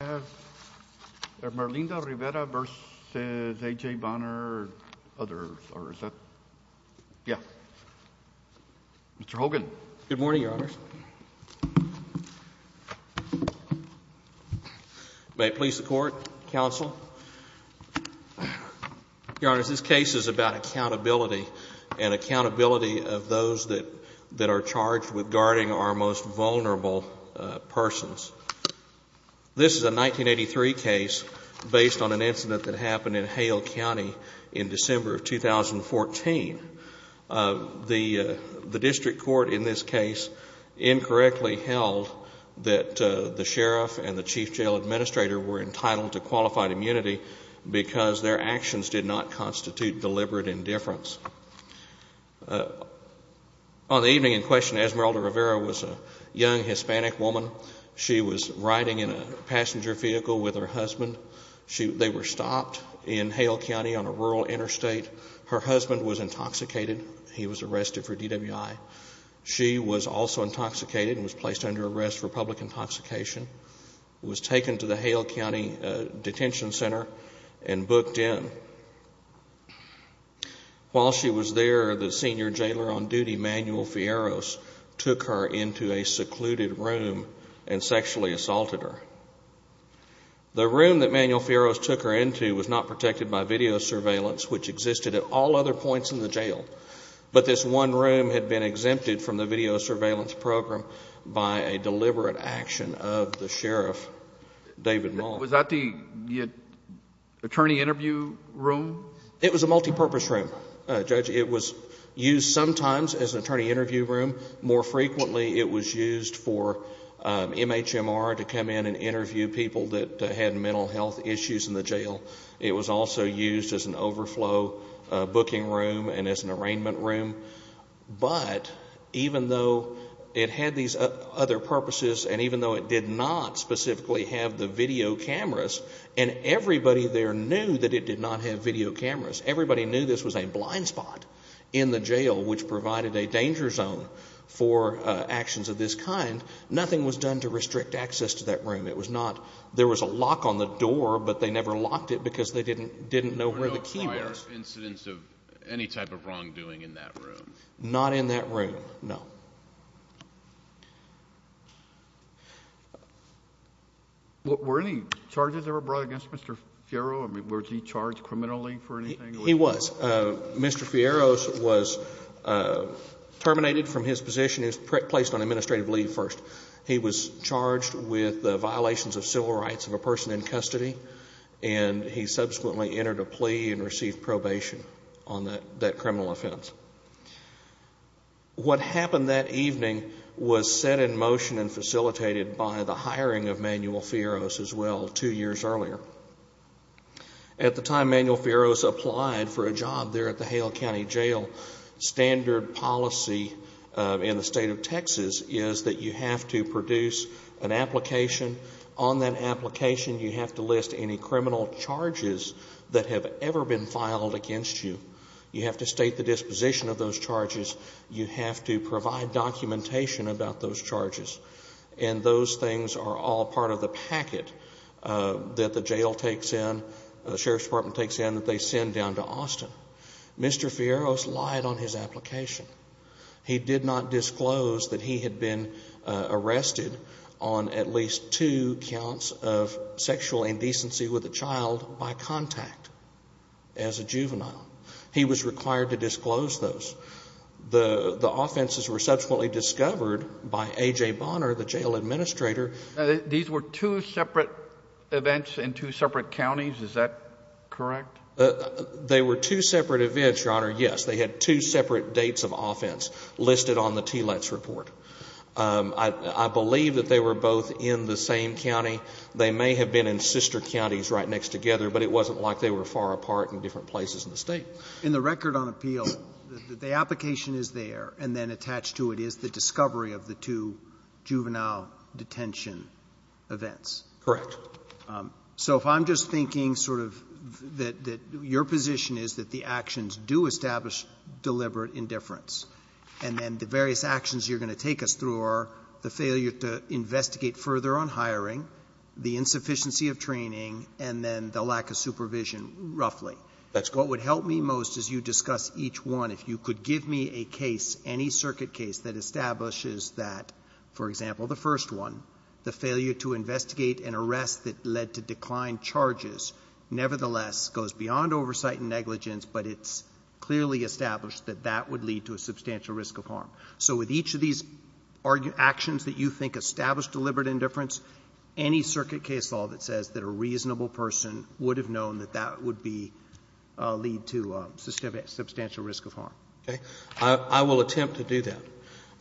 I have Merlenda Rivera v. A.J. Bonner, others, or is that? Yeah. Mr. Hogan. Good morning, Your Honors. May it please the Court, Counsel. Your Honors, this case is about accountability and accountability of those that are charged with guarding our most vulnerable persons. This is a 1983 case based on an incident that happened in Hale County in December of 2014. The district court in this case incorrectly held that the sheriff and the chief jail administrator were entitled to qualified immunity because their actions did not constitute deliberate indifference. On the evening in question, Esmerelda Rivera was a young Hispanic woman. She was riding in a passenger vehicle with her husband. They were stopped in Hale County on a rural interstate. Her husband was intoxicated. He was arrested for DWI. She was also intoxicated and was placed under arrest for public intoxication, was taken to the Hale County Detention Center, and booked in. While she was there, the senior jailer on duty, Manuel Fierros, took her into a secluded room and sexually assaulted her. The room that Manuel Fierros took her into was not protected by video surveillance, which existed at all other points in the jail. But this one room had been exempted from the video surveillance program by a deliberate action of the sheriff, David Maul. Was that the attorney interview room? It was a multipurpose room, Judge. It was used sometimes as an attorney interview room. More frequently, it was used for MHMR to come in and interview people that had mental health issues in the jail. It was also used as an overflow booking room and as an arraignment room. But even though it had these other purposes and even though it did not specifically have the video cameras, and everybody there knew that it did not have video cameras, everybody knew this was a blind spot in the jail, which provided a danger zone for actions of this kind, nothing was done to restrict access to that room. It was not – there was a lock on the door, but they never locked it because they didn't know where the key was. There were no incidents of any type of wrongdoing in that room? Not in that room, no. Were any charges ever brought against Mr. Fierro? I mean, was he charged criminally for anything? He was. Mr. Fierro was terminated from his position. He was placed on administrative leave first. He was charged with the violations of civil rights of a person in custody, and he subsequently entered a plea and received probation on that criminal offense. What happened that evening was set in motion and facilitated by the hiring of Manuel Fierro as well two years earlier. At the time Manuel Fierro applied for a job there at the Hale County Jail, standard policy in the State of Texas is that you have to produce an application. On that application you have to list any criminal charges that have ever been filed against you. You have to state the disposition of those charges. You have to provide documentation about those charges. And those things are all part of the packet that the jail takes in, the Sheriff's Department takes in, that they send down to Austin. Mr. Fierro's lied on his application. He did not disclose that he had been arrested on at least two counts of sexual indecency with a child by contact as a juvenile. He was required to disclose those. The offenses were subsequently discovered by A.J. Bonner, the jail administrator. These were two separate events in two separate counties. Is that correct? They were two separate events, Your Honor, yes. They had two separate dates of offense listed on the TLETS report. I believe that they were both in the same county. They may have been in sister counties right next together, but it wasn't like they were far apart in different places in the State. In the record on appeal, the application is there, and then attached to it is the discovery of the two juvenile detention events. Correct. So if I'm just thinking sort of that your position is that the actions do establish deliberate indifference, and then the various actions you're going to take us through are the failure to investigate further on hiring, the insufficiency of training, and then the lack of supervision, roughly. That's correct. What would help me most as you discuss each one, if you could give me a case, any circuit case that establishes that, for example, the first one, the failure to investigate an arrest that led to declined charges nevertheless goes beyond oversight and negligence, but it's clearly established that that would lead to a substantial risk of harm. So with each of these actions that you think establish deliberate indifference, any circuit case law that says that a reasonable person would have known that that would be lead to substantial risk of harm. Okay. I will attempt to do that.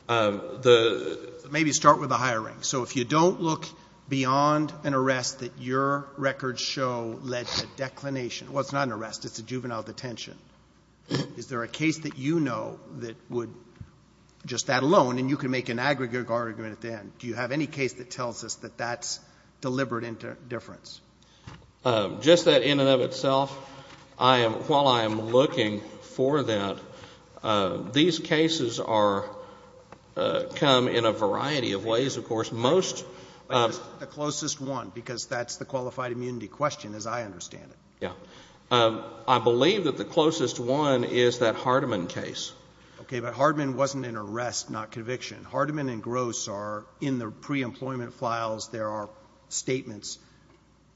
The — Maybe start with the hiring. So if you don't look beyond an arrest that your records show led to a declination — well, it's not an arrest. It's a juvenile detention. Is there a case that you know that would — just that alone, and you can make an aggregate argument at the end. Do you have any case that tells us that that's deliberate indifference? Just that in and of itself, I am — while I am looking for that, these cases are — come in a variety of ways, of course. Most — The closest one, because that's the qualified immunity question, as I understand it. Yeah. I believe that the closest one is that Hardeman case. Okay. But Hardeman wasn't an arrest, not conviction. Hardeman and Gross are in the preemployment files. There are statements.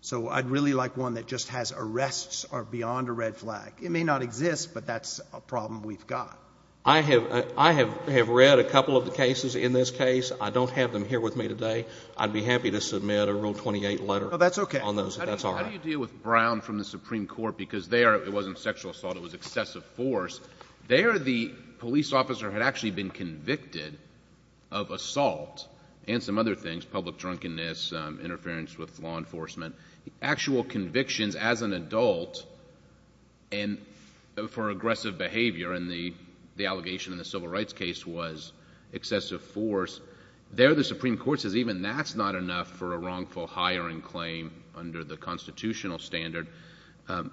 So I'd really like one that just has arrests are beyond a red flag. It may not exist, but that's a problem we've got. I have read a couple of the cases in this case. I don't have them here with me today. I'd be happy to submit a Rule 28 letter on those, if that's all right. Oh, that's okay. How do you deal with Brown from the Supreme Court? Because there, it wasn't sexual assault. It was excessive force. There, the police officer had actually been convicted of assault and some other things, public drunkenness, interference with law enforcement. Actual convictions as an adult and for aggressive behavior, and the allegation in the civil rights case was excessive force. There, the Supreme Court says even that's not enough for a wrongful hiring claim under the constitutional standard.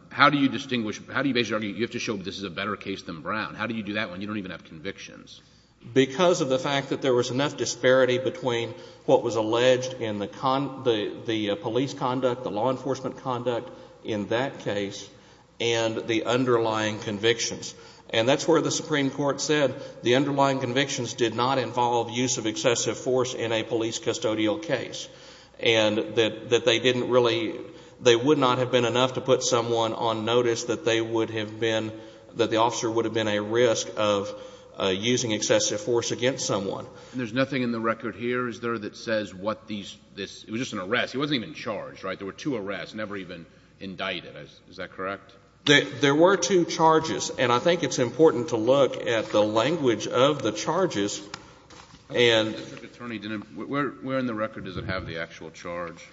How do you distinguish — how do you basically argue you have to show this is a better case than Brown? How do you do that when you don't even have convictions? Because of the fact that there was enough disparity between what was alleged in the police conduct, the law enforcement conduct in that case, and the underlying convictions. And that's where the Supreme Court said the underlying convictions did not involve use of excessive force in a police custodial case and that they didn't really — they would not have been enough to put someone on notice that they would have been — that they were using excessive force against someone. And there's nothing in the record here, is there, that says what these — this — it was just an arrest. It wasn't even charged, right? There were two arrests, never even indicted. Is that correct? There were two charges. And I think it's important to look at the language of the charges and — The district attorney didn't — where in the record does it have the actual charge?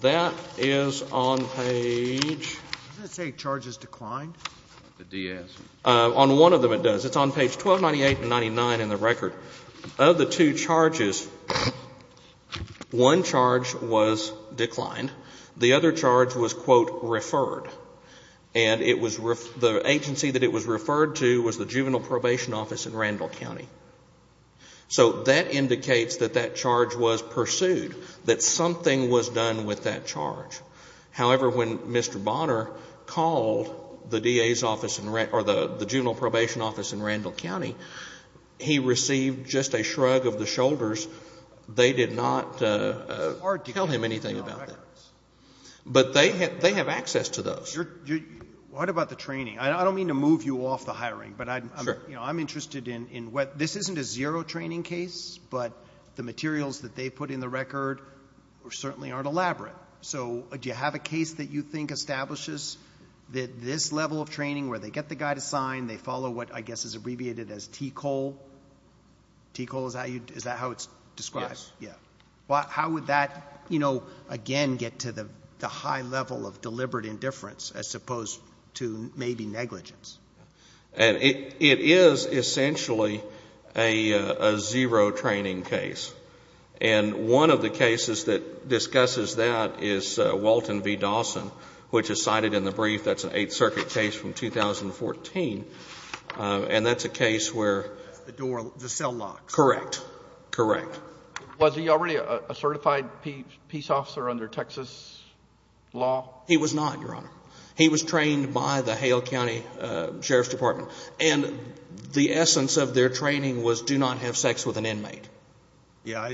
That is on page — Doesn't it say charges declined? The DS. On one of them it does. It's on page 1298 and 99 in the record. Of the two charges, one charge was declined. The other charge was, quote, referred. And it was — the agency that it was referred to was the juvenile probation office in Randall County. So that indicates that that charge was pursued, that something was done with that charge. However, when Mr. Bonner called the DA's office in — or the juvenile probation office in Randall County, he received just a shrug of the shoulders. They did not tell him anything about that. But they have access to those. What about the training? I don't mean to move you off the hiring, but I'm — Sure. I'm interested in what — this isn't a zero training case, but the materials that they put in the record certainly aren't elaborate. So do you have a case that you think establishes that this level of training, where they get the guy to sign, they follow what I guess is abbreviated as T. Cole? T. Cole, is that how it's described? Yes. Yeah. How would that, you know, again get to the high level of deliberate indifference as opposed to maybe negligence? It is essentially a zero training case. And one of the cases that discusses that is Walton v. Dawson, which is cited in the brief. That's an Eighth Circuit case from 2014. And that's a case where — The door — the cell locks. Correct. Correct. Was he already a certified peace officer under Texas law? He was not, Your Honor. He was trained by the Hale County Sheriff's Department. And the essence of their training was do not have sex with an inmate. Yeah.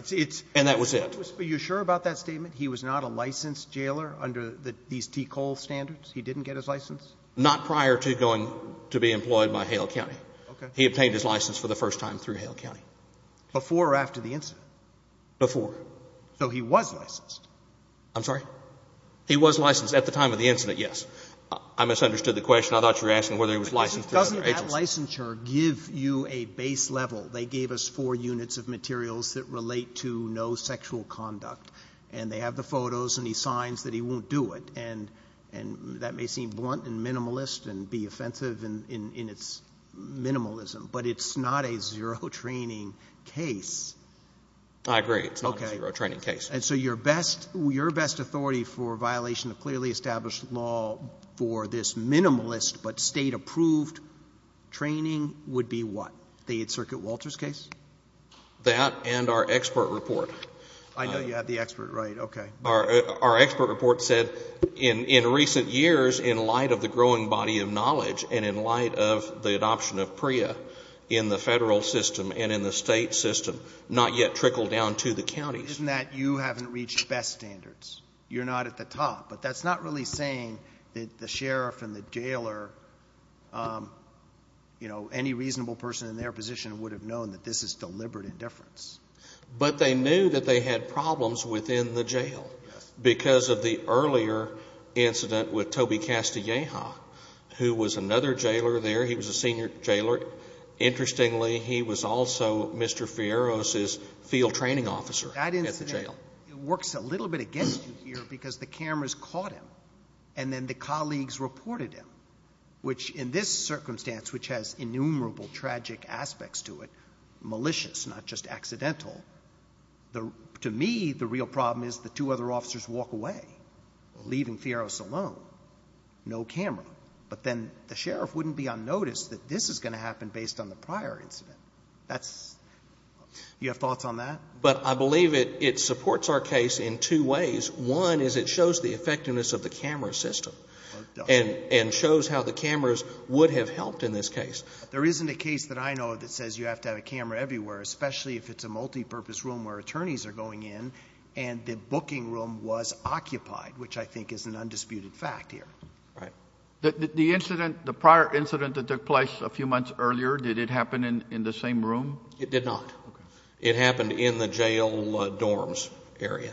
And that was it. Are you sure about that statement? He was not a licensed jailer under these T. Cole standards? He didn't get his license? Not prior to going to be employed by Hale County. Okay. He obtained his license for the first time through Hale County. Before or after the incident? Before. So he was licensed? I'm sorry? He was licensed at the time of the incident, yes. I misunderstood the question. I thought you were asking whether he was licensed through other agencies. Well, the licensure gives you a base level. They gave us four units of materials that relate to no sexual conduct. And they have the photos, and he signs that he won't do it. And that may seem blunt and minimalist and be offensive in its minimalism, but it's not a zero-training case. I agree. It's not a zero-training case. Okay. And so your best authority for violation of clearly established law for this minimalist but State-approved training would be what? The 8th Circuit Walters case? That and our expert report. I know you have the expert, right. Okay. Our expert report said in recent years, in light of the growing body of knowledge and in light of the adoption of PREA in the Federal system and in the State system, not yet trickled down to the counties. Isn't that you haven't reached best standards? You're not at the top. But that's not really saying that the sheriff and the jailer, you know, any reasonable person in their position would have known that this is deliberate indifference. But they knew that they had problems within the jail because of the earlier incident with Toby Castilleja, who was another jailer there. He was a senior jailer. Interestingly, he was also Mr. Fierro's field training officer at the jail. It works a little bit against you here because the cameras caught him and then the colleagues reported him, which in this circumstance, which has innumerable tragic aspects to it, malicious, not just accidental. To me, the real problem is the two other officers walk away, leaving Fierro's alone. No camera. But then the sheriff wouldn't be unnoticed that this is going to happen based on the prior incident. You have thoughts on that? But I believe it supports our case in two ways. One is it shows the effectiveness of the camera system and shows how the cameras would have helped in this case. There isn't a case that I know of that says you have to have a camera everywhere, especially if it's a multipurpose room where attorneys are going in and the booking room was occupied, which I think is an undisputed fact here. Right. The incident, the prior incident that took place a few months earlier, did it happen in the same room? It did not. Okay. It happened in the jail dorms area.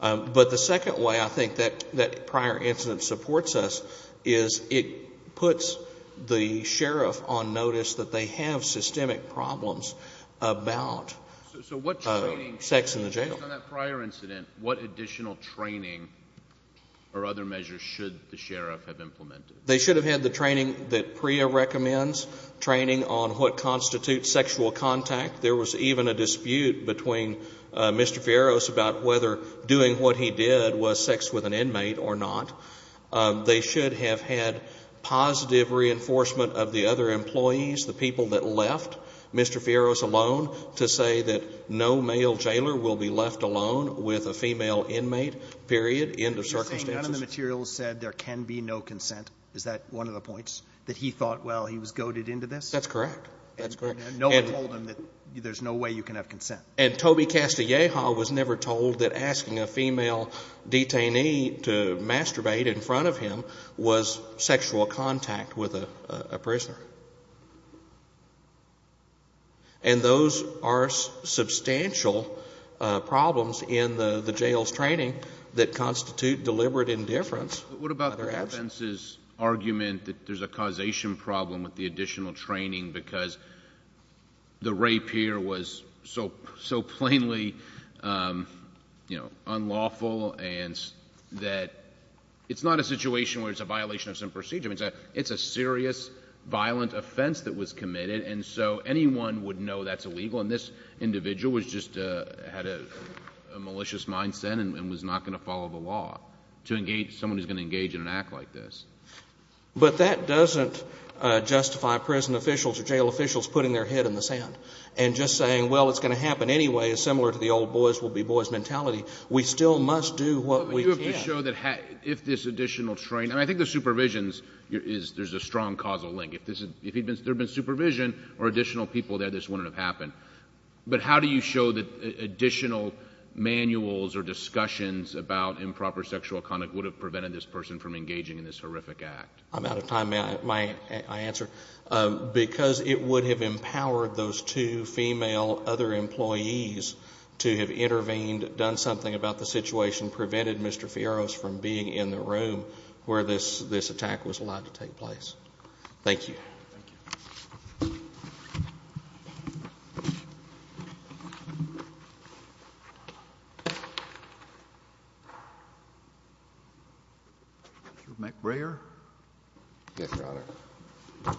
But the second way I think that prior incident supports us is it puts the sheriff on notice that they have systemic problems about sex in the jail. So what training, based on that prior incident, what additional training or other measures should the sheriff have implemented? They should have had the training that PREA recommends, training on what constitutes sexual contact. There was even a dispute between Mr. Fierros about whether doing what he did was sex with an inmate or not. They should have had positive reinforcement of the other employees, the people that left Mr. Fierros alone, to say that no male jailer will be left alone with a female inmate, period, end of circumstances. Are you saying none of the materials said there can be no consent? Is that one of the points? That he thought, well, he was goaded into this? That's correct. That's correct. And no one told him that there's no way you can have consent. And Toby Castilleja was never told that asking a female detainee to masturbate in front of him was sexual contact with a prisoner. And those are substantial problems in the jail's training that constitute deliberate indifference. What about the defense's argument that there's a causation problem with the additional training because the rape here was so plainly, you know, unlawful and that it's not a situation where it's a violation of some procedure. It's a serious, violent offense that was committed, and so anyone would know that's illegal. And this individual was just had a malicious mindset and was not going to follow the law to engage someone who's going to engage in an act like this. But that doesn't justify prison officials or jail officials putting their head in the sand and just saying, well, it's going to happen anyway, similar to the old boys will be boys mentality. We still must do what we can. But you have to show that if this additional training, and I think the supervision is, there's a strong causal link. If there had been supervision or additional people there, this wouldn't have happened. But how do you show that additional manuals or discussions about improper sexual conduct would have prevented this person from engaging in this horrific act? I'm out of time. May I answer? Because it would have empowered those two female other employees to have intervened, done something about the situation, prevented Mr. Fierros from being in the room where this attack was allowed to take place. Thank you. Thank you. Mr. McBrayer. Yes, Your Honor.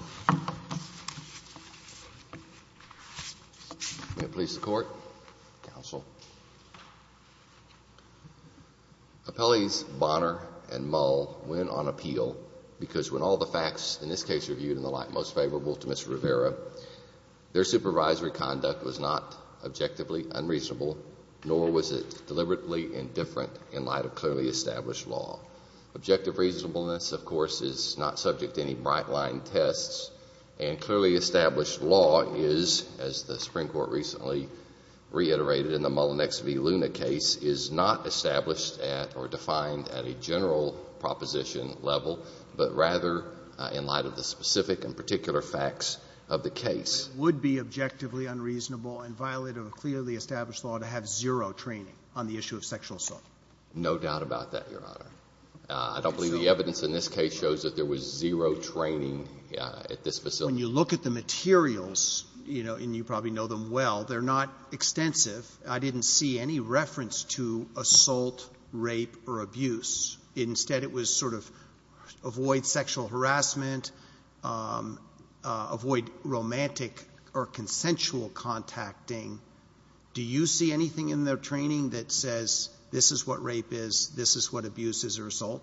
May it please the Court. Counsel. Appellees Bonner and Mull went on appeal because when all the facts, in this case, were viewed in the light most favorable to Mr. Rivera, their supervisory conduct was not objectively unreasonable, nor was it deliberately indifferent in light of clearly established law. Objective reasonableness, of course, is not subject to any bright-line tests, and clearly established law is, as the Supreme Court recently reiterated in the Mull and XV Luna case, is not established at or defined at a general proposition level, but rather in light of the specific and particular facts of the case. It would be objectively unreasonable and violated of clearly established law to have zero training on the issue of sexual assault. No doubt about that, Your Honor. I don't believe the evidence in this case shows that there was zero training at this facility. When you look at the materials, you know, and you probably know them well, they're not extensive. I didn't see any reference to assault, rape, or abuse. Instead, it was sort of avoid sexual harassment, avoid romantic or consensual contacting. Do you see anything in their training that says this is what rape is, this is what abuse is, or assault?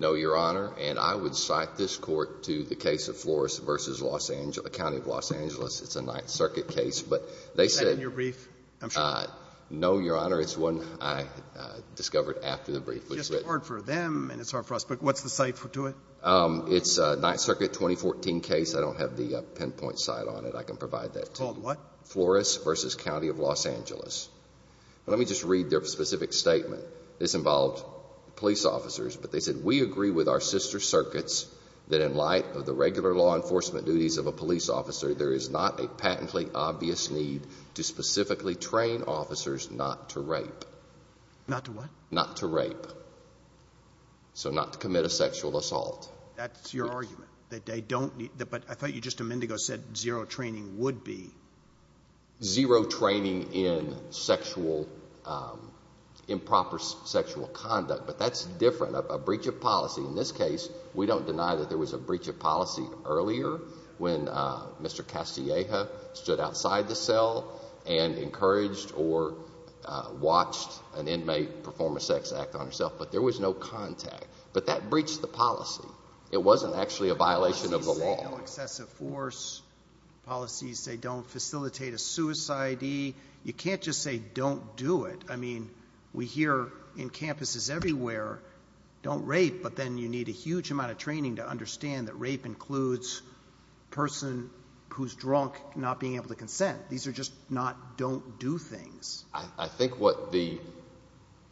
No, Your Honor. And I would cite this Court to the case of Flores v. Los Angeles, a county of Los Angeles. It's a Ninth Circuit case. But they said your brief. I'm sure. No, Your Honor. It's one I discovered after the brief was written. It's hard for them, and it's hard for us. But what's the cite to it? It's a Ninth Circuit 2014 case. I don't have the pinpoint cite on it. I can provide that to you. Called what? Flores v. County of Los Angeles. Let me just read their specific statement. This involved police officers. But they said, we agree with our sister circuits that in light of the regular law enforcement duties of a police officer, there is not a patently obvious need to specifically train officers not to rape. Not to what? Not to rape. So not to commit a sexual assault. That's your argument, that they don't need to. But I thought you just a minute ago said zero training would be. Zero training in sexual improper sexual conduct. But that's different. A breach of policy. In this case, we don't deny that there was a breach of policy earlier when Mr. Castilleja stood outside the cell and encouraged or watched an inmate perform a sex act on herself. But there was no contact. But that breached the policy. It wasn't actually a violation of the law. Policies say no excessive force. Policies say don't facilitate a suicidee. You can't just say don't do it. I mean, we hear in campuses everywhere, don't rape. But then you need a huge amount of training to understand that rape includes a person who's drunk not being able to consent. These are just not don't do things. I think what the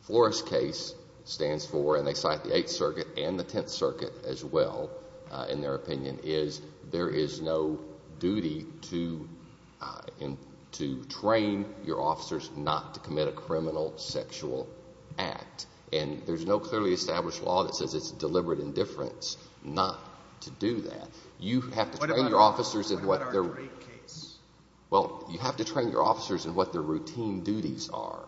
Flores case stands for, and they cite the Eighth Circuit and the Tenth Circuit as well in their opinion, is there is no duty to train your officers not to commit a criminal sexual act. And there's no clearly established law that says it's deliberate indifference not to do that. You have to train your officers in what their – What about our rape case? Well, you have to train your officers in what their routine duties are.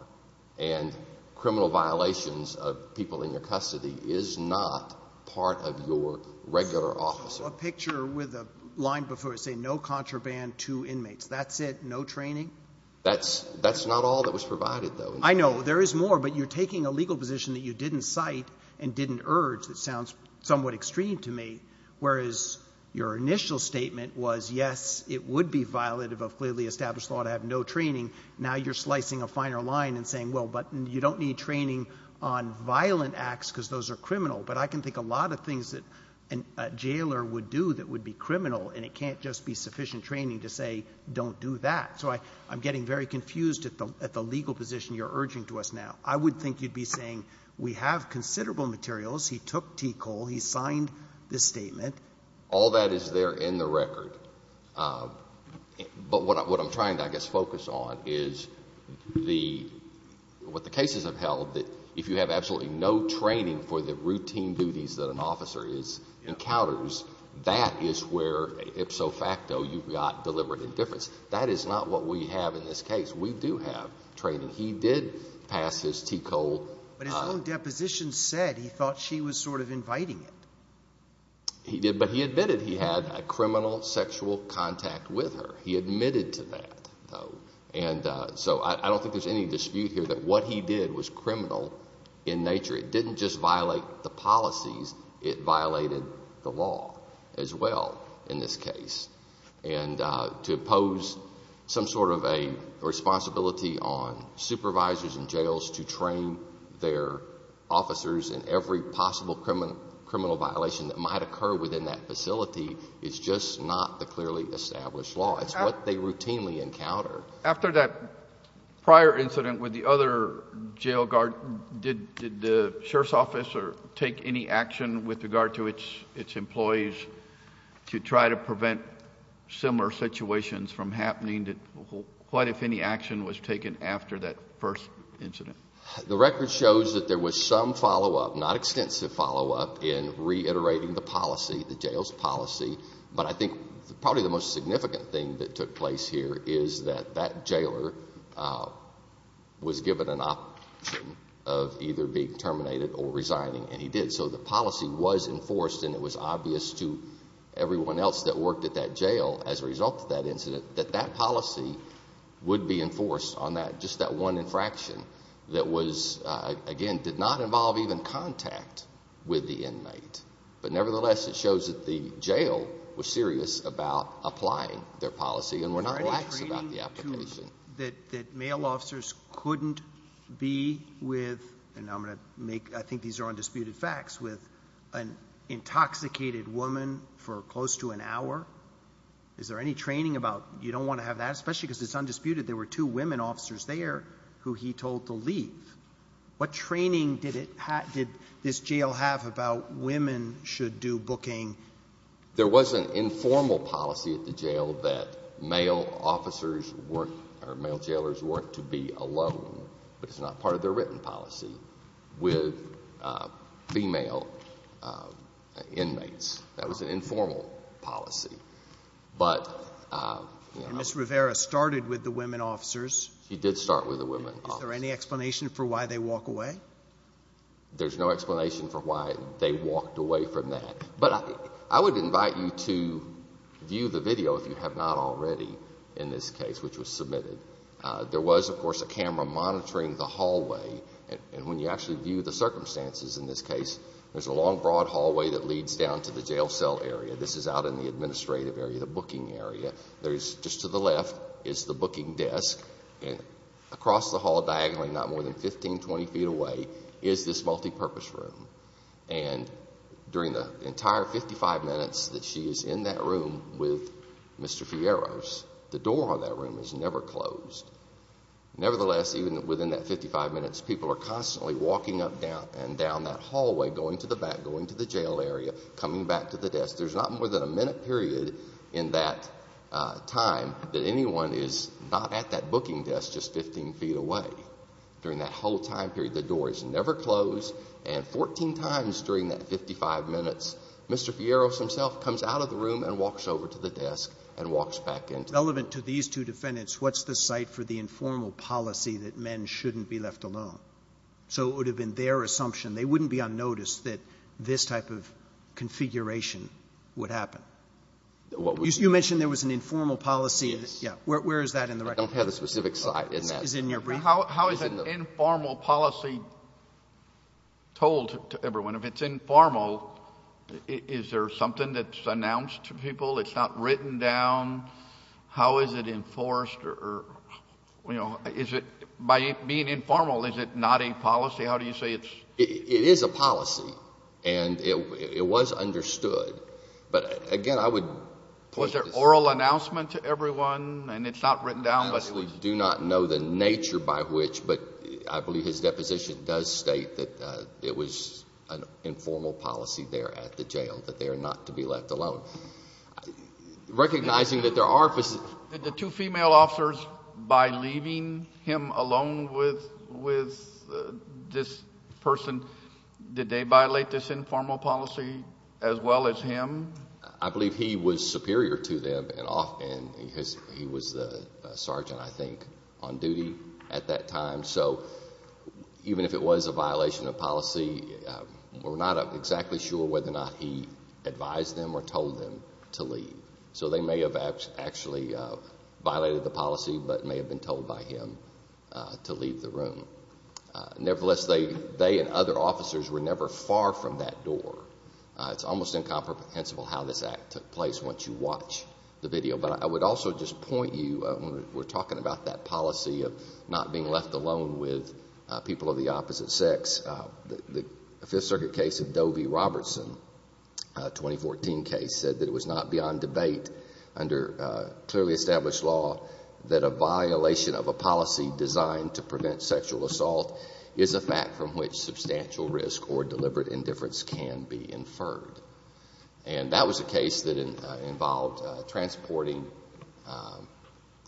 And criminal violations of people in your custody is not part of your regular officer. A picture with a line before it saying no contraband to inmates. That's it? No training? That's not all that was provided, though. I know. There is more, but you're taking a legal position that you didn't cite and didn't urge that sounds somewhat extreme to me, whereas your initial statement was, yes, it would be violative of clearly established law to have no training. Now you're slicing a finer line and saying, well, but you don't need training on violent acts because those are criminal. But I can think a lot of things that a jailer would do that would be criminal, and it can't just be sufficient training to say don't do that. So I'm getting very confused at the legal position you're urging to us now. I would think you'd be saying we have considerable materials. He took T. Cole. He signed this statement. All that is there in the record. But what I'm trying to, I guess, focus on is what the cases have held, that if you have absolutely no training for the routine duties that an officer encounters, that is where, ipso facto, you've got deliberate indifference. That is not what we have in this case. We do have training. He did pass his T. Cole. But his own deposition said he thought she was sort of inviting it. He did. He admitted he had a criminal sexual contact with her. He admitted to that, though. And so I don't think there's any dispute here that what he did was criminal in nature. It didn't just violate the policies. It violated the law as well in this case. And to impose some sort of a responsibility on supervisors in jails to train their officers in every possible criminal violation that might occur within that facility is just not the clearly established law. It's what they routinely encounter. After that prior incident with the other jail guard, did the sheriff's office take any action with regard to its employees to try to prevent similar situations from happening? What, if any, action was taken after that first incident? The record shows that there was some follow-up, not extensive follow-up, in reiterating the policy, the jail's policy. But I think probably the most significant thing that took place here is that that jailer was given an option of either being terminated or resigning. And he did. So the policy was enforced, and it was obvious to everyone else that worked at that jail as a result of that incident that that policy would be enforced on just that one infraction. That was, again, did not involve even contact with the inmate. But nevertheless, it shows that the jail was serious about applying their policy and were not relaxed about the application. Is there any training that male officers couldn't be with, and I'm going to make, I think these are undisputed facts, with an intoxicated woman for close to an hour? Is there any training about you don't want to have that, especially because it's undisputed there were two women officers there who he told to leave? What training did this jail have about women should do booking? There was an informal policy at the jail that male jailers weren't to be alone, but it's not part of their written policy, with female inmates. That was an informal policy. And Ms. Rivera started with the women officers. She did start with the women officers. Is there any explanation for why they walk away? There's no explanation for why they walked away from that. But I would invite you to view the video, if you have not already, in this case, which was submitted. There was, of course, a camera monitoring the hallway, and when you actually view the circumstances in this case, there's a long, broad hallway that leads down to the jail cell area. This is out in the administrative area, the booking area. There's just to the left is the booking desk, and across the hall diagonally, not more than 15, 20 feet away, is this multipurpose room. And during the entire 55 minutes that she is in that room with Mr. Fierro's, the door on that room is never closed. Nevertheless, even within that 55 minutes, people are constantly walking up and down that hallway, going to the back, going to the jail area, coming back to the desk. There's not more than a minute period in that time that anyone is not at that booking desk just 15 feet away. During that whole time period, the door is never closed. And 14 times during that 55 minutes, Mr. Fierro's himself comes out of the room and walks over to the desk and walks back in. Relevant to these two defendants, what's the site for the informal policy that men shouldn't be left alone? So it would have been their assumption, they wouldn't be unnoticed that this type of configuration would happen. You mentioned there was an informal policy. Yes. Where is that in the record? I don't have a specific site in that. Is it in your brief? How is an informal policy told to everyone? If it's informal, is there something that's announced to people? It's not written down? How is it enforced? Or, you know, is it by being informal, is it not a policy? How do you say it's? It is a policy. And it was understood. But, again, I would point to this. Was there oral announcement to everyone? And it's not written down, but it was. I honestly do not know the nature by which, but I believe his deposition does state that it was an informal policy there at the jail, that they are not to be left alone. Recognizing that there are positions. Did the two female officers, by leaving him alone with this person, did they violate this informal policy as well as him? I believe he was superior to them. And he was the sergeant, I think, on duty at that time. So even if it was a violation of policy, we're not exactly sure whether or not he advised them or told them to leave. So they may have actually violated the policy, but may have been told by him to leave the room. Nevertheless, they and other officers were never far from that door. It's almost incomprehensible how this act took place once you watch the video. But I would also just point you, when we're talking about that policy of not being left alone with people of the opposite sex, the Fifth Circuit case of Doe v. Robertson, a 2014 case, said that it was not beyond debate under clearly established law that a violation of a policy designed to prevent sexual assault is a fact from which substantial risk or deliberate indifference can be inferred. And that was a case that involved transporting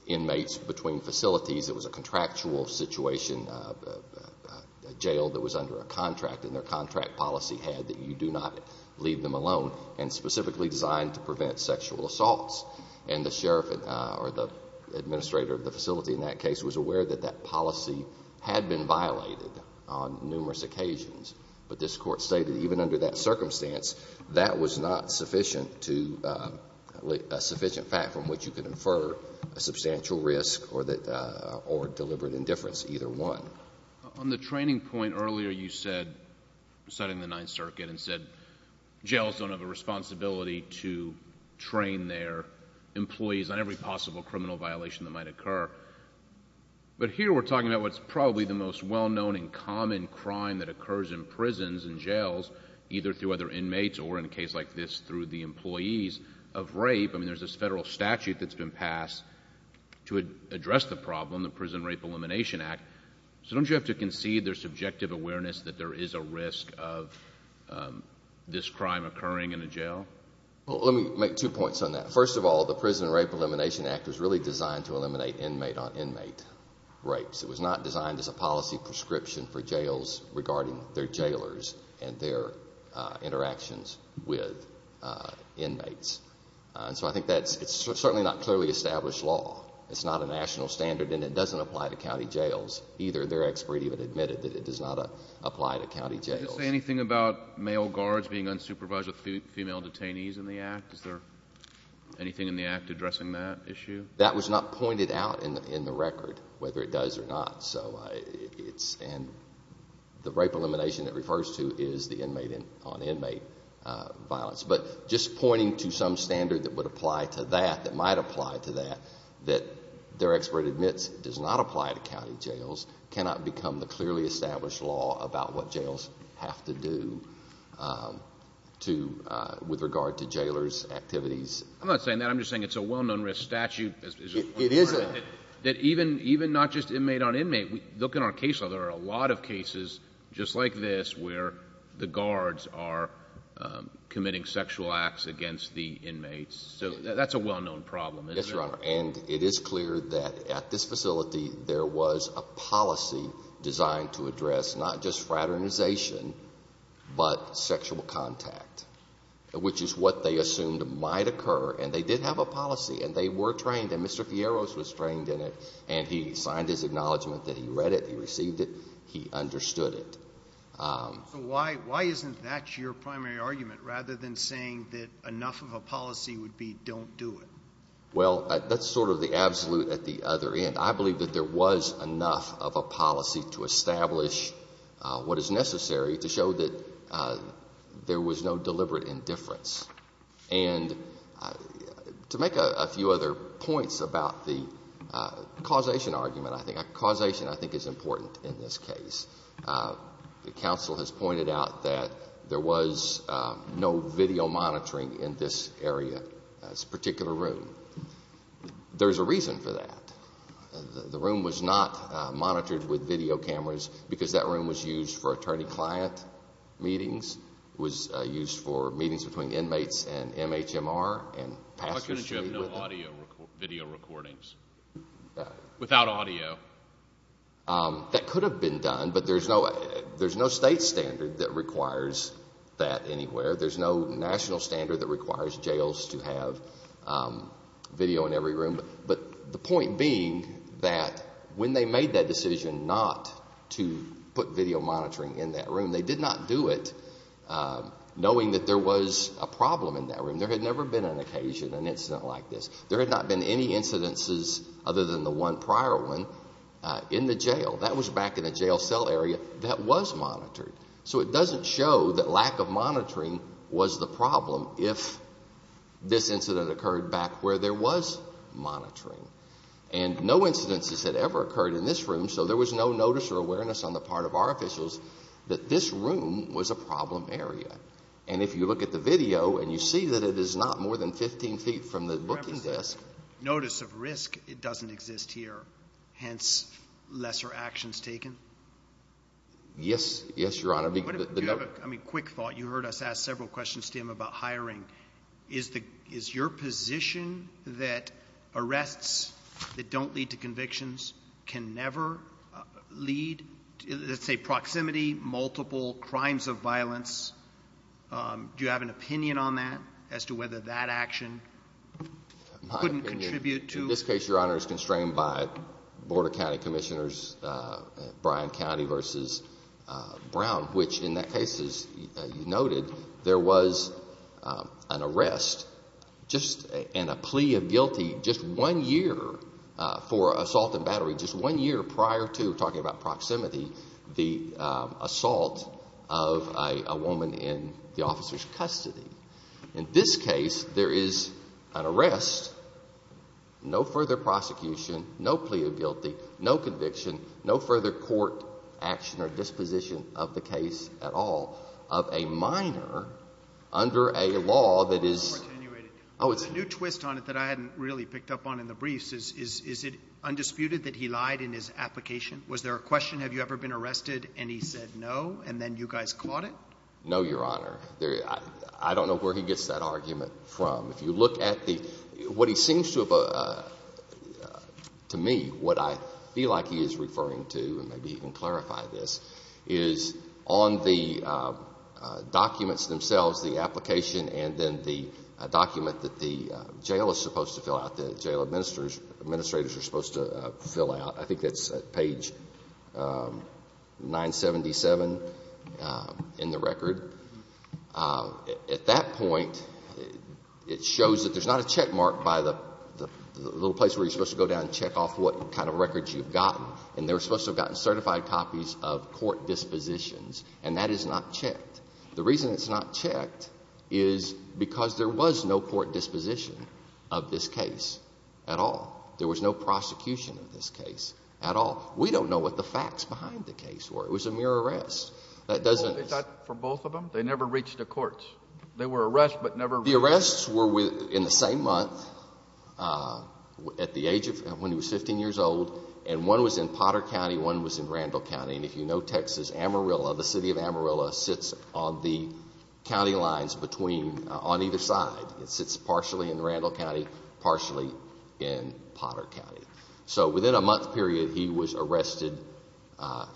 inmates between facilities. It was a contractual situation, a jail that was under a contract, and their contract policy had that you do not leave them alone, and specifically designed to prevent sexual assaults. And the sheriff or the administrator of the facility in that case was aware that that policy had been violated on numerous occasions. But this Court stated even under that circumstance, that was not sufficient to – a sufficient fact from which you can infer a substantial risk or deliberate indifference, either one. On the training point earlier, you said – citing the Ninth Circuit and said jails don't have a responsibility to train their employees on every possible criminal violation that might occur. But here we're talking about what's probably the most well-known and common crime that occurs in prisons and jails, either through other inmates or, in a case like this, through the employees of rape. I mean, there's this federal statute that's been passed to address the problem, the Prison Rape Elimination Act. So don't you have to concede their subjective awareness that there is a risk of this crime occurring in a jail? Well, let me make two points on that. First of all, the Prison Rape Elimination Act was really designed to eliminate inmate-on-inmate rapes. It was not designed as a policy prescription for jails regarding their jailers and their interactions with inmates. And so I think that's – it's certainly not clearly established law. It's not a national standard, and it doesn't apply to county jails either. Their expert even admitted that it does not apply to county jails. Can you say anything about male guards being unsupervised with female detainees in the act? Is there anything in the act addressing that issue? That was not pointed out in the record, whether it does or not. And the rape elimination it refers to is the inmate-on-inmate violence. But just pointing to some standard that would apply to that, that might apply to that, that their expert admits does not apply to county jails, cannot become the clearly established law about what jails have to do with regard to jailers' activities. I'm not saying that. I'm just saying it's a well-known risk statute. It is a – That even not just inmate-on-inmate, look in our case law. There are a lot of cases just like this where the guards are committing sexual acts against the inmates. So that's a well-known problem, isn't it? Yes, Your Honor. And it is clear that at this facility, there was a policy designed to address not just fraternization but sexual contact, which is what they assumed might occur. And they did have a policy, and they were trained, and Mr. Fierro was trained in it. And he signed his acknowledgment that he read it, he received it, he understood it. So why isn't that your primary argument, rather than saying that enough of a policy would be don't do it? Well, that's sort of the absolute at the other end. I believe that there was enough of a policy to establish what is necessary to show that there was no deliberate indifference. And to make a few other points about the causation argument, I think, causation, I think, is important in this case. The counsel has pointed out that there was no video monitoring in this area, this particular room. There's a reason for that. The room was not monitored with video cameras because that room was used for attorney-client meetings. It was used for meetings between inmates and MHMR and passengers. Why couldn't you have no audio video recordings without audio? That could have been done, but there's no state standard that requires that anywhere. There's no national standard that requires jails to have video in every room. But the point being that when they made that decision not to put video monitoring in that room, they did not do it knowing that there was a problem in that room. There had never been an occasion, an incident like this. There had not been any incidences other than the one prior one in the jail. That was back in a jail cell area that was monitored. So it doesn't show that lack of monitoring was the problem if this incident occurred back where there was monitoring. And no incidences had ever occurred in this room, so there was no notice or awareness on the part of our officials that this room was a problem area. And if you look at the video and you see that it is not more than 15 feet from the book is this. Notice of risk, it doesn't exist here. Hence, lesser actions taken? Yes, Your Honor. Do you have a quick thought? You heard us ask several questions to him about hiring. Is your position that arrests that don't lead to convictions can never lead, let's say, proximity, multiple crimes of violence? Do you have an opinion on that as to whether that action couldn't contribute to? In this case, Your Honor, it's constrained by Board of County Commissioners, Bryan County v. Brown, which in that case, as you noted, there was an arrest and a plea of guilty just one year for assault and battery, just one year prior to, talking about proximity, the assault of a woman in the officer's custody. In this case, there is an arrest, no further prosecution, no plea of guilty, no conviction, no further court action or disposition of the case at all of a minor under a law that is — It's more attenuated. Oh, it's — There's a new twist on it that I hadn't really picked up on in the briefs. Is it undisputed that he lied in his application? Was there a question, have you ever been arrested, and he said no, and then you guys caught it? No, Your Honor. I don't know where he gets that argument from. If you look at the — what he seems to have — to me, what I feel like he is referring to, and maybe he can clarify this, is on the documents themselves, the application, and then the document that the jail is supposed to fill out, the jail administrators are supposed to fill out, I think that's page 977 in the record. At that point, it shows that there's not a checkmark by the little place where you're supposed to go down and check off what kind of records you've gotten, and they're supposed to have gotten certified copies of court dispositions, and that is not checked. The reason it's not checked is because there was no court disposition of this case at all. There was no prosecution of this case at all. We don't know what the facts behind the case were. It was a mere arrest. That doesn't — For both of them, they never reached the courts. They were arrested but never — The arrests were in the same month, at the age of — when he was 15 years old, and one was in Potter County, one was in Randall County, and if you know Texas, Amarillo, the city of Amarillo sits on the county lines between — on either side. It sits partially in Randall County, partially in Potter County. So within a month period, he was arrested,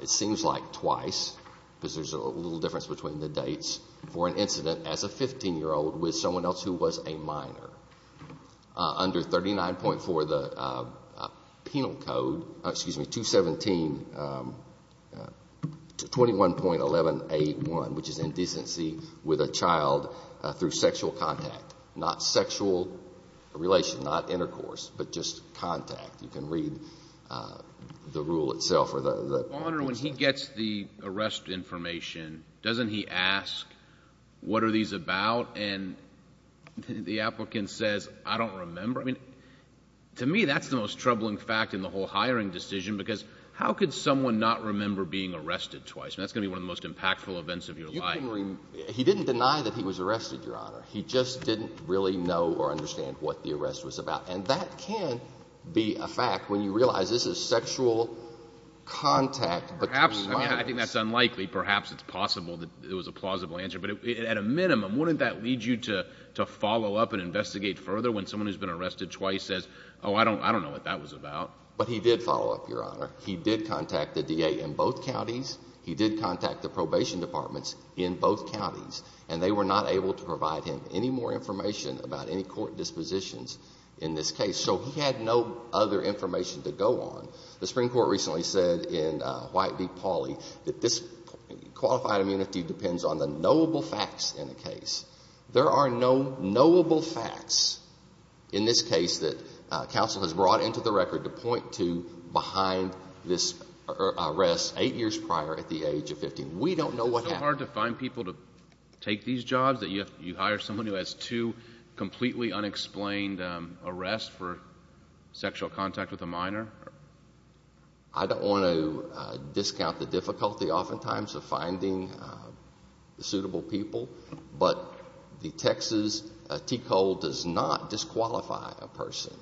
it seems like twice, because there's a little difference between the dates, for an incident as a 15-year-old with someone else who was a minor. Under 39.4, the penal code — excuse me, 217 — 21.1181, which is indecency with a child through sexual contact, not sexual relation, not intercourse, but just contact. You can read the rule itself or the — Your Honor, when he gets the arrest information, doesn't he ask, what are these about? And the applicant says, I don't remember. I mean, to me, that's the most troubling fact in the whole hiring decision, because how could someone not remember being arrested twice? And that's going to be one of the most impactful events of your life. You can — he didn't deny that he was arrested, Your Honor. He just didn't really know or understand what the arrest was about. And that can be a fact when you realize this is sexual contact between minors. Perhaps. I mean, I think that's unlikely. Perhaps it's possible that it was a plausible answer. But at a minimum, wouldn't that lead you to follow up and investigate further when someone who's been arrested twice says, oh, I don't know what that was about? But he did follow up, Your Honor. He did contact the DA in both counties. He did contact the probation departments in both counties. And they were not able to provide him any more information about any court dispositions in this case. So he had no other information to go on. The Supreme Court recently said in White v. Pauley that this qualified immunity depends on the knowable facts in the case. There are no knowable facts in this case that counsel has brought into the record to point to behind this arrest eight years prior at the age of 15. We don't know what happened. Is it so hard to find people to take these jobs that you hire someone who has two I don't want to discount the difficulty oftentimes of finding suitable people. But the Texas TCO does not disqualify a person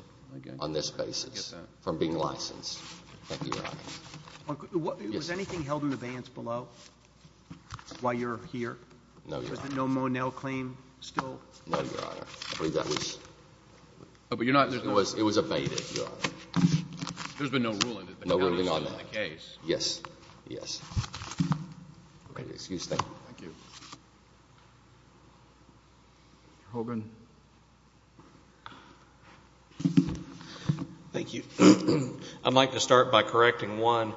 on this basis from being licensed. Thank you, Your Honor. Was anything held in abeyance below while you're here? No, Your Honor. Was the no-Monell claim still? No, Your Honor. I believe that was. But you're not. It was abated, Your Honor. There's been no ruling. No ruling on that. Yes. Yes. Excuse me. Thank you. Mr. Hogan. Thank you. I'd like to start by correcting one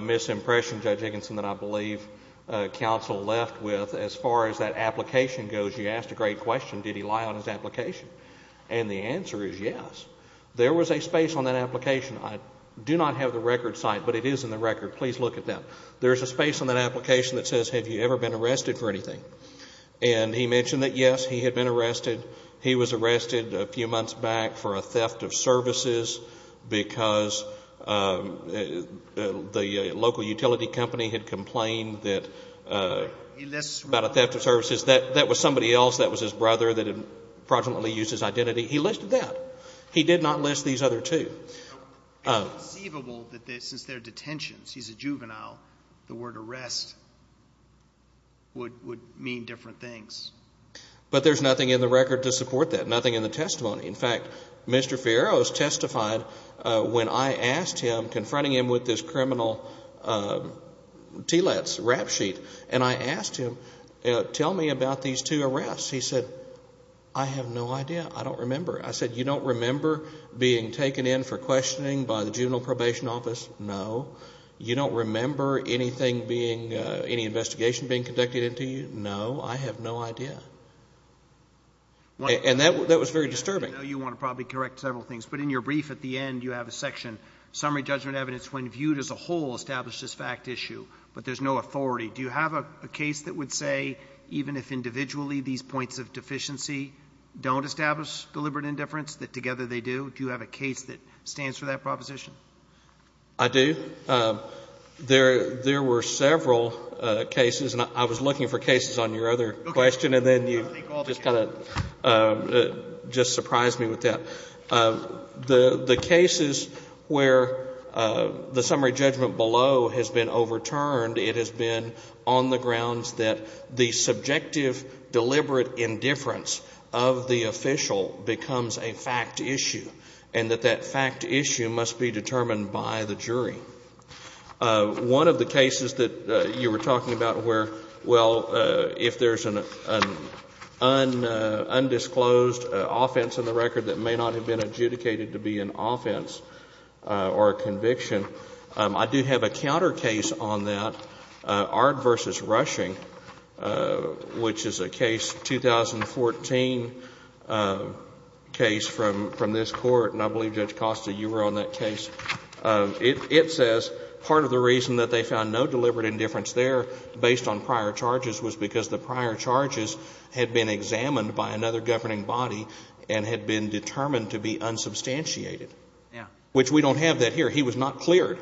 misimpression, Judge Higginson, that I believe counsel left with as far as that application goes. You asked a great question. Did he lie on his application? And the answer is yes. There was a space on that application. I do not have the record site, but it is in the record. Please look at that. There's a space on that application that says, have you ever been arrested for anything? And he mentioned that, yes, he had been arrested. He was arrested a few months back for a theft of services because the local utility company had complained about a theft of services. That was somebody else. That was his brother that had fraudulently used his identity. He listed that. He did not list these other two. It's conceivable that since they're detentions, he's a juvenile, the word arrest would mean different things. But there's nothing in the record to support that, nothing in the testimony. In fact, Mr. Fierro has testified when I asked him, confronting him with this criminal TILADS rap sheet, and I asked him, tell me about these two arrests. He said, I have no idea. I don't remember. I said, you don't remember being taken in for questioning by the juvenile probation office? No. You don't remember anything being, any investigation being conducted into you? No, I have no idea. And that was very disturbing. I know you want to probably correct several things, but in your brief at the end you have a section, summary judgment evidence when viewed as a whole establishes fact issue, but there's no authority. Do you have a case that would say even if individually these points of deficiency don't establish deliberate indifference, that together they do? Do you have a case that stands for that proposition? I do. There were several cases, and I was looking for cases on your other question, and then you just kind of just surprised me with that. The cases where the summary judgment below has been overturned, it has been on the grounds that the subjective deliberate indifference of the official becomes a fact issue, and that that fact issue must be determined by the jury. One of the cases that you were talking about where, well, if there's an undisclosed offense in the record that may not have been adjudicated to be an offense or a conviction, I do have a counter case on that, Ard v. Rushing, which is a case, 2014 case from this Court, and I believe, Judge Costa, you were on that case. It says part of the reason that they found no deliberate indifference there based on prior charges was because the prior charges had been examined by another governing body and had been determined to be unsubstantiated. Yeah. Which we don't have that here. He was not cleared.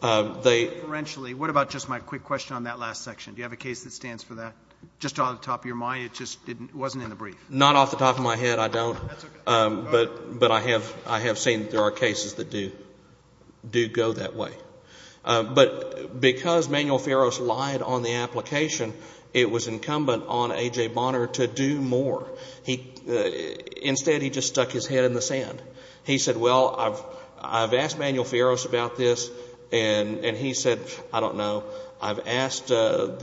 They — Referentially, what about just my quick question on that last section? Do you have a case that stands for that? Just off the top of your mind, it just wasn't in the brief. Not off the top of my head, I don't. That's okay. But I have seen that there are cases that do go that way. But because Manuel Fierros lied on the application, it was incumbent on A.J. Bonner to do more. Instead, he just stuck his head in the sand. He said, well, I've asked Manuel Fierros about this, and he said, I don't know. I've asked the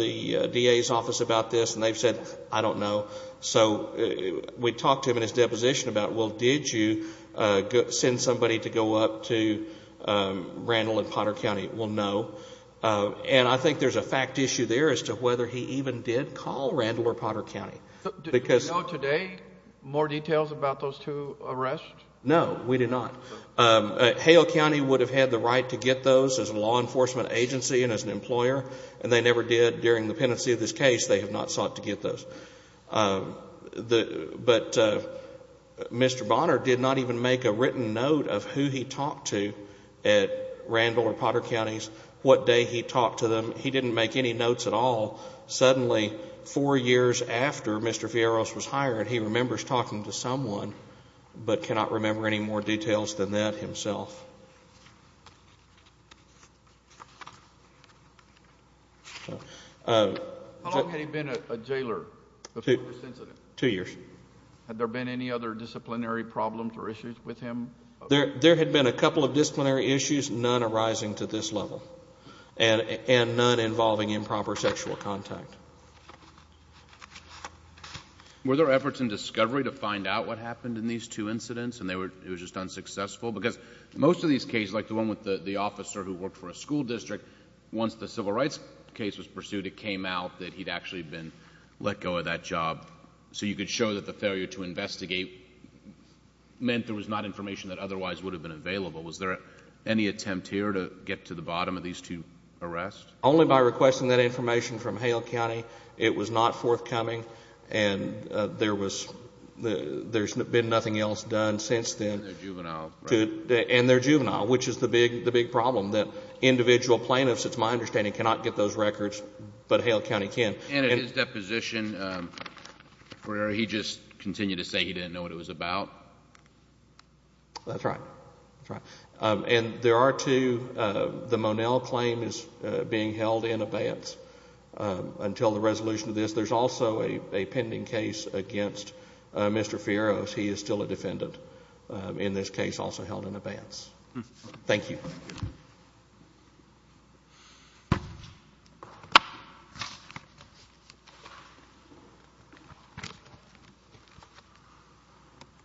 DA's office about this, and they've said, I don't know. So we talked to him in his deposition about, well, did you send somebody to go up to Randall and Potter County? Well, no. And I think there's a fact issue there as to whether he even did call Randall or Potter County. Did we know today more details about those two arrests? No, we did not. Hale County would have had the right to get those as a law enforcement agency and as an employer, and they never did during the pendency of this case. They have not sought to get those. But Mr. Bonner did not even make a written note of who he talked to at Randall or Potter Counties, what day he talked to them. He didn't make any notes at all. Suddenly, four years after Mr. Fierros was hired, he remembers talking to someone, but cannot remember any more details than that himself. How long had he been a jailer before this incident? Two years. Had there been any other disciplinary problems or issues with him? There had been a couple of disciplinary issues, none arising to this level, and none involving improper sexual contact. Were there efforts in discovery to find out what happened in these two incidents and it was just unsuccessful? Because most of these cases, like the one with the officer who worked for a school district, once the civil rights case was pursued, it came out that he'd actually been let go of that job. So you could show that the failure to investigate meant there was not information that otherwise would have been available. Was there any attempt here to get to the bottom of these two arrests? Only by requesting that information from Hale County. It was not forthcoming, and there's been nothing else done since then. And they're juvenile, right? And they're juvenile, which is the big problem, that individual plaintiffs, it's my understanding, cannot get those records, but Hale County can. And at his deposition, where he just continued to say he didn't know what it was about? That's right, that's right. And there are two, the Monell claim is being held in abeyance until the resolution of this. There's also a pending case against Mr. Fierro. He is still a defendant in this case, also held in abeyance. Thank you.